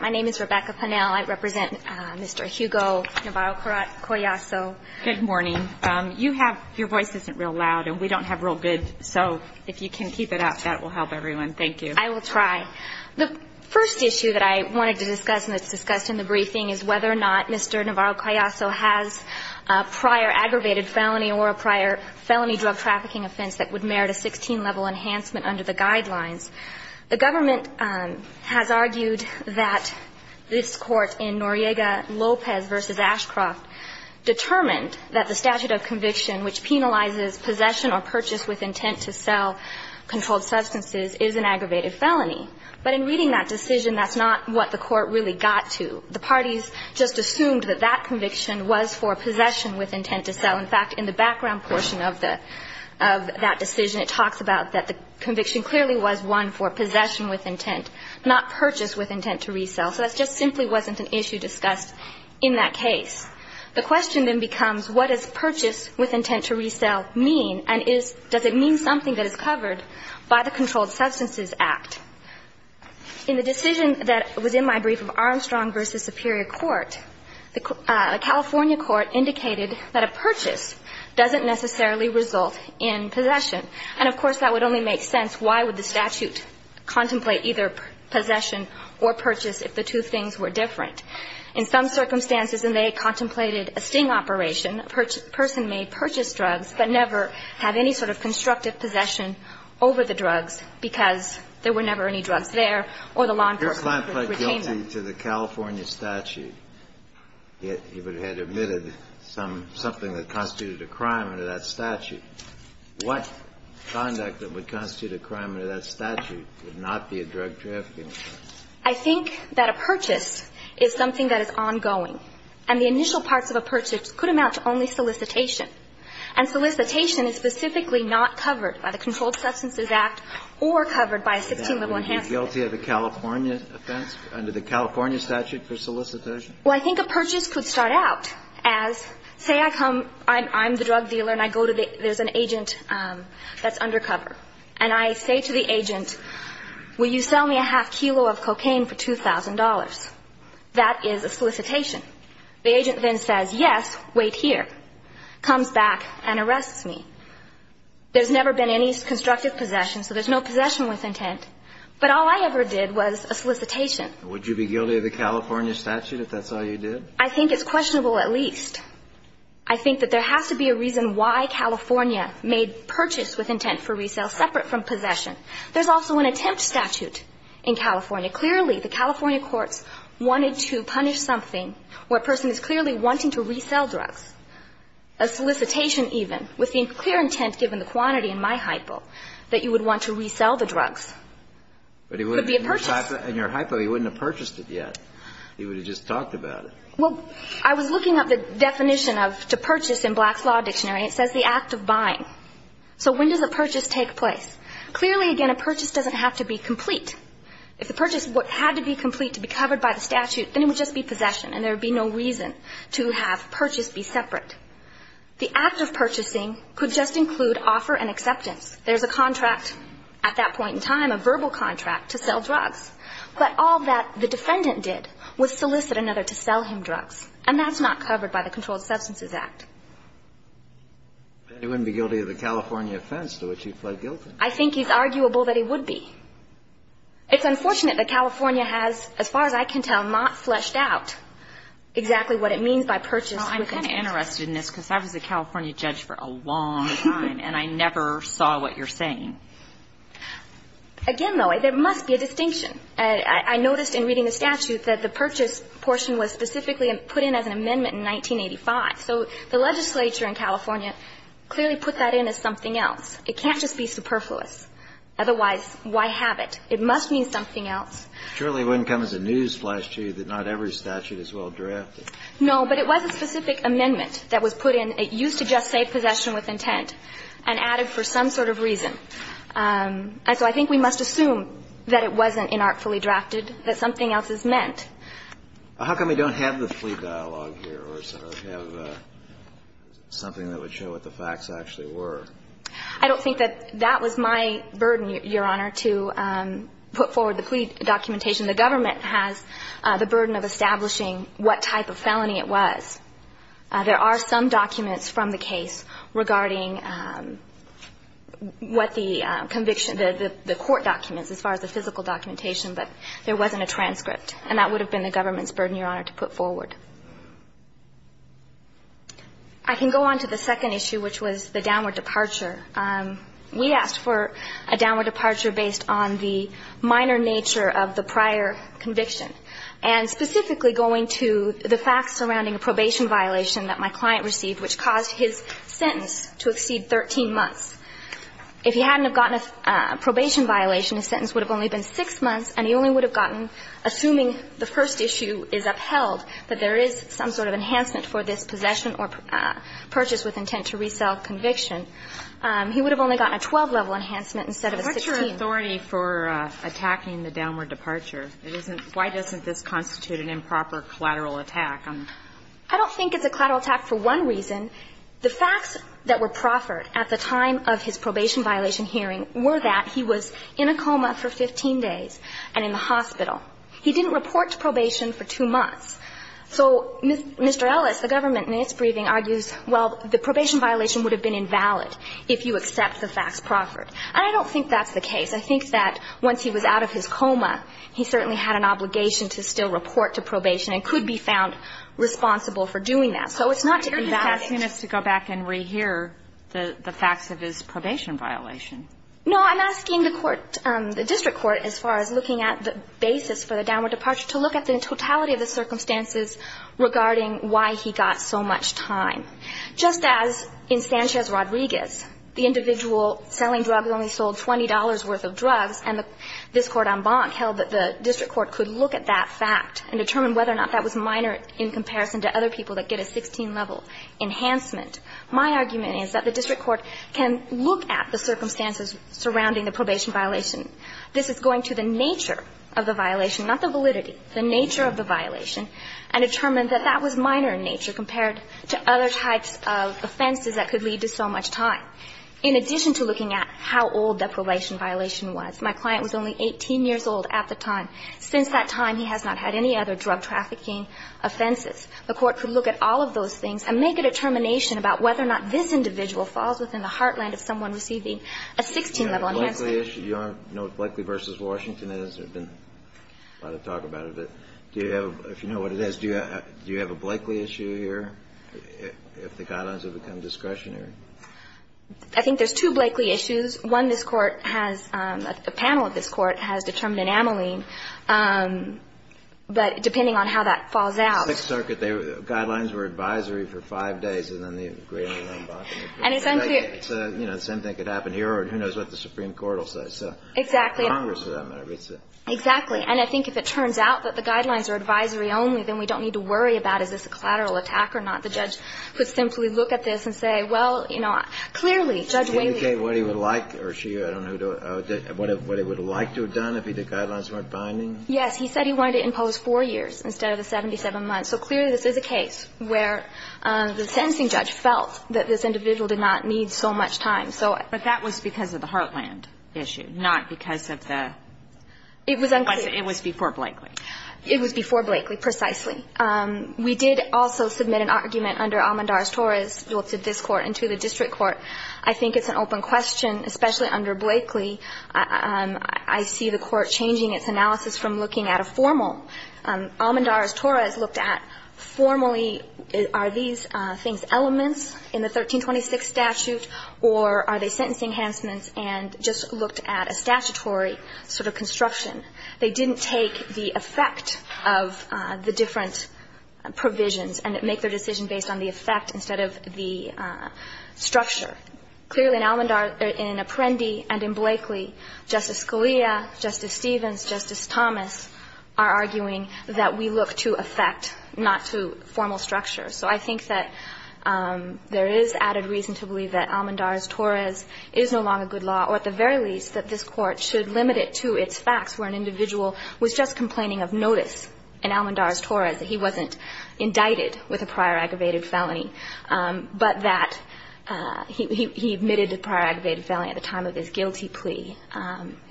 My name is Rebecca Pannell. I represent Mr. Hugo Navarro-Coyazo. Good morning. You have, your voice isn't real loud, and we don't have real good, so if you can keep it up, that will help everyone. Thank you. I will try. The first issue that I wanted to discuss and that's discussed in the briefing is whether or not Mr. Navarro-Coyazo has a prior aggravated felony or a prior felony drug trafficking offense that would merit a 16-level enhancement under the guidelines. The government has argued that this Court in Noriega-Lopez v. Ashcroft determined that the statute of conviction which penalizes possession or purchase with intent to sell controlled substances is an aggravated felony. But in reading that decision, that's not what the Court really got to. The parties just assumed that that conviction was for possession with intent to sell. In fact, in the background portion of the, of that decision, it talks about that the conviction clearly was one for possession with intent, not purchase with intent to resell. So that just simply wasn't an issue discussed in that case. The question then becomes what does purchase with intent to resell mean, and is, does it mean something that is covered by the Controlled Substances Act? In the decision that was in my brief of Armstrong v. Superior Court, the California Court indicated that a purchase doesn't necessarily result in possession. And, of course, that would only make sense. Why would the statute contemplate either possession or purchase if the two things were different? In some circumstances, and they contemplated a sting operation, a person may purchase drugs but never have any sort of constructive possession over the drugs because there were never any drugs there or the law enforcement could retain them. If a client pled guilty to the California statute, if he had admitted something that constituted a crime under that statute, what conduct that would constitute a crime under that statute would not be a drug trafficking offense? I think that a purchase is something that is ongoing. And the initial parts of a purchase could amount to only solicitation. And solicitation is specifically not covered by the Controlled Substances Act or covered by a 16-level enhancement. Would he be guilty of a California offense under the California statute for solicitation? Well, I think a purchase could start out as, say, I come, I'm the drug dealer and I go to the, there's an agent that's undercover. And I say to the agent, will you sell me a half kilo of cocaine for $2,000? That is a solicitation. The agent then says, yes, wait here, comes back and arrests me. There's never been any constructive possession, so there's no possession with intent. But all I ever did was a solicitation. Would you be guilty of the California statute if that's all you did? I think it's questionable at least. I think that there has to be a reason why California made purchase with intent for resale separate from possession. There's also an attempt statute in California. Clearly, the California courts wanted to punish something where a person is clearly wanting to resell drugs, a solicitation even, with the clear intent, given the quantity in my hypo, that you would want to resell the drugs. It would be a purchase. But in your hypo, he wouldn't have purchased it yet. He would have just talked about it. Well, I was looking up the definition of to purchase in Black's Law Dictionary. It says the act of buying. So when does a purchase take place? Clearly, again, a purchase doesn't have to be complete. If the purchase had to be complete to be covered by the statute, then it would just be possession and there would be no reason to have purchase be separate. The act of purchasing could just include offer and acceptance. There's a contract at that point in time, a verbal contract, to sell drugs. But all that the defendant did was solicit another to sell him drugs. And that's not covered by the Controlled Substances Act. Then he wouldn't be guilty of the California offense to which he pled guilty. I think he's arguable that he would be. It's unfortunate that California has, as far as I can tell, not fleshed out exactly what it means by purchase. Well, I'm kind of interested in this because I was a California judge for a long time and I never saw what you're saying. Again, though, there must be a distinction. I noticed in reading the statute that the purchase portion was specifically put in as an amendment in 1985. So the legislature in California clearly put that in as something else. It can't just be superfluous. Otherwise, why have it? It must mean something else. Surely it wouldn't come as a newsflash to you that not every statute is well drafted. No, but it was a specific amendment that was put in. It used to just say possession with intent and added for some sort of reason. And so I think we must assume that it wasn't inartfully drafted, that something else is meant. How come we don't have the plea dialogue here or sort of have something that would show what the facts actually were? I don't think that that was my burden, Your Honor, to put forward the plea documentation. The government has the burden of establishing what type of felony it was. There are some documents from the case regarding what the conviction, the court documents as far as the physical documentation, but there wasn't a transcript. And that would have been the government's burden, Your Honor, to put forward. I can go on to the second issue, which was the downward departure. We asked for a downward departure based on the minor nature of the prior conviction and specifically going to the facts surrounding a probation violation that my client received, which caused his sentence to exceed 13 months. If he hadn't have gotten a probation violation, his sentence would have only been six months, and he only would have gotten, assuming the first issue is upheld, that there is some sort of enhancement for this possession or purchase with intent to resell conviction. He would have only gotten a 12-level enhancement instead of a 16. What's your authority for attacking the downward departure? It isn't why doesn't this constitute an improper collateral attack? I don't think it's a collateral attack for one reason. The facts that were proffered at the time of his probation violation hearing were that he was in a coma for 15 days and in the hospital. He didn't report to probation for two months. So Mr. Ellis, the government in its briefing argues, well, the probation violation would have been invalid if you accept the facts proffered. And I don't think that's the case. I think that once he was out of his coma, he certainly had an obligation to still report to probation and could be found responsible for doing that. So it's not to invalidate. You're asking us to go back and rehear the facts of his probation violation. No. I'm asking the court, the district court, as far as looking at the basis for the downward departure, to look at the totality of the circumstances regarding why he got so much time. Just as in Sanchez-Rodriguez, the individual selling drugs only sold $20 worth of drugs, and this Court en banc held that the district court could look at that fact and determine whether or not that was minor in comparison to other people that get a 16-level enhancement, my argument is that the district court can look at the circumstances surrounding the probation violation. This is going to the nature of the violation, not the validity, the nature of the violation, and determine that that was minor in nature compared to other types of offenses that could lead to so much time, in addition to looking at how old that probation violation was. My client was only 18 years old at the time. Since that time, he has not had any other drug trafficking offenses. The court could look at all of those things and make a determination about whether or not this individual falls within the heartland of someone receiving a 16-level enhancement. Kennedy. Do you have a Blakeley issue here, if the guidelines have become discretionary? I think there's two Blakeley issues. One, this Court has the panel of this Court has determined an amyline, but depending on how that falls out. Sixth Circuit, the guidelines were advisory for five days, and then the agreement was en banc. And it's unclear. So, you know, the same thing could happen here, or who knows what the Supreme Court will say. Exactly. Exactly. And I think if it turns out that the guidelines are advisory only, then we don't need to worry about is this a collateral attack or not. The judge could simply look at this and say, well, you know, clearly, Judge Whaley Did he indicate what he would like, or she, I don't know, what he would like to have done if the guidelines weren't binding? Yes. He said he wanted to impose four years instead of the 77 months. So clearly, this is a case where the sentencing judge felt that this individual did not need so much time. So I But that was because of the Heartland issue, not because of the It was unclear. It was before Blakely. It was before Blakely, precisely. We did also submit an argument under Almendarez-Torres, both to this Court and to the district court. I think it's an open question, especially under Blakely. I see the Court changing its analysis from looking at a formal. Almendarez-Torres looked at formally are these things elements in the 1326 statute or are they sentencing enhancements and just looked at a statutory sort of construction. They didn't take the effect of the different provisions and make their decision based on the effect instead of the structure. Clearly, in Almendarez or in Apprendi and in Blakely, Justice Scalia, Justice Stevens, Justice Thomas are arguing that we look to effect, not to formal structure. So I think that there is added reason to believe that Almendarez-Torres is no longer a good law, or at the very least that this Court should limit it to its facts where an individual was just complaining of notice in Almendarez-Torres, that he wasn't indicted with a prior aggravated felony, but that he admitted to prior aggravated felony at the time of his guilty plea.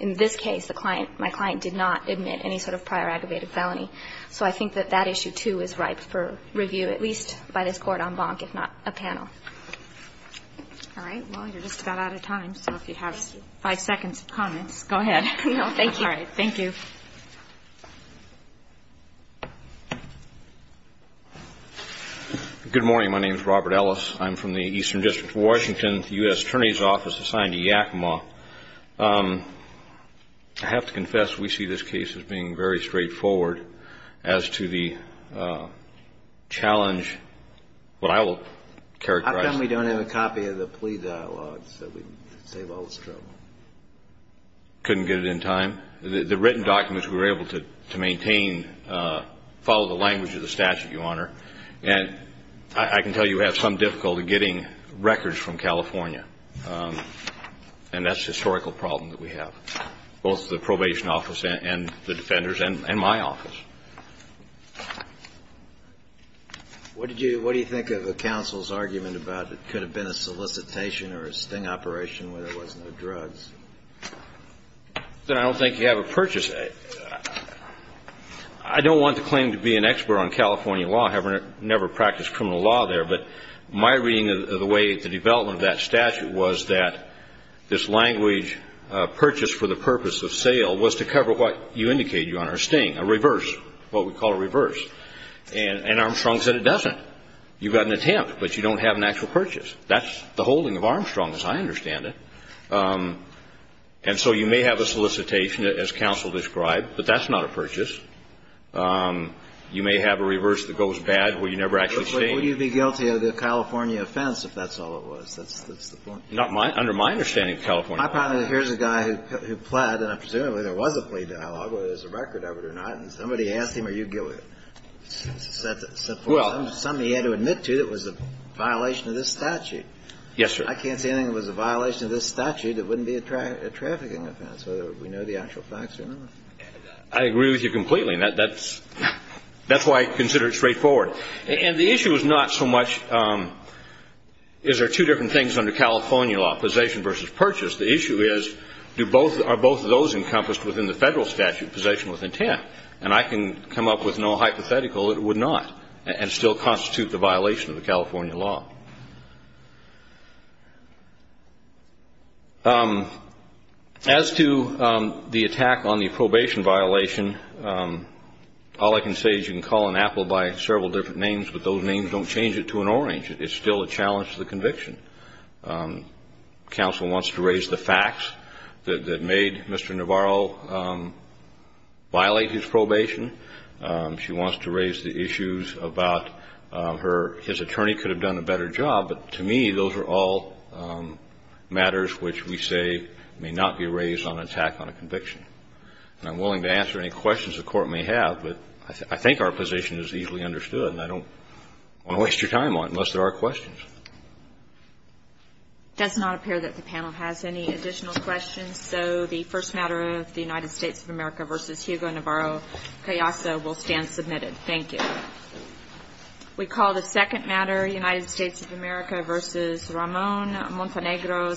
In this case, my client did not admit any sort of prior aggravated felony. So I think that that issue, too, is ripe for review, at least by this Court en banc, if not a panel. All right. Well, you're just about out of time, so if you have five seconds of comments, go ahead. Thank you. All right. Thank you. Good morning. My name is Robert Ellis. I'm from the Eastern District of Washington, the U.S. Attorney's Office assigned to Yakima. I have to confess, we see this case as being very straightforward as to the challenge that I will characterize. How come we don't have a copy of the plea dialogue so we can save all this trouble? Couldn't get it in time. The written documents we were able to maintain follow the language of the statute, Your Honor. And I can tell you we have some difficulty getting records from California. And that's a historical problem that we have, both the probation office and the defenders and my office. What do you think of the counsel's argument about it could have been a solicitation or a sting operation where there was no drugs? I don't think you have a purchase. I don't want to claim to be an expert on California law. I never practiced criminal law there. But my reading of the way the development of that statute was that this language, purchase for the purpose of sale, was to cover what you indicated, Your Honor, a sting, a reverse, what we call a reverse. And Armstrong said it doesn't. You've got an attempt, but you don't have an actual purchase. That's the holding of Armstrong, as I understand it. And so you may have a solicitation, as counsel described, but that's not a purchase. You may have a reverse that goes bad where you never actually sting. But would you be guilty of the California offense if that's all it was? That's the point. Under my understanding of California law. My problem is here's a guy who pled, and presumably there was a plea dialogue, whether there's a record of it or not. And somebody asked him, are you guilty? Somebody had to admit to it was a violation of this statute. Yes, sir. I can't say anything that was a violation of this statute that wouldn't be a trafficking offense, whether we know the actual facts or not. I agree with you completely. That's why I consider it straightforward. And the issue is not so much is there two different things under California law, possession versus purchase. The issue is are both of those encompassed within the federal statute, possession with intent? And I can come up with no hypothetical that it would not and still constitute the violation of the California law. As to the attack on the probation violation, all I can say is you can call an apple by several different names, but those names don't change it to an orange. It's still a challenge to the conviction. Counsel wants to raise the facts that made Mr. Navarro violate his probation. She wants to raise the issues about his attorney could have done a better job of But to me, those are all matters which we say may not be raised on attack on a conviction. And I'm willing to answer any questions the Court may have, but I think our position is easily understood, and I don't want to waste your time on it unless there are questions. It does not appear that the panel has any additional questions, so the first matter of the United States of America v. Hugo Navarro-Cayasso will stand submitted. Thank you. We call the second matter United States of America v. Ramon Montenegro,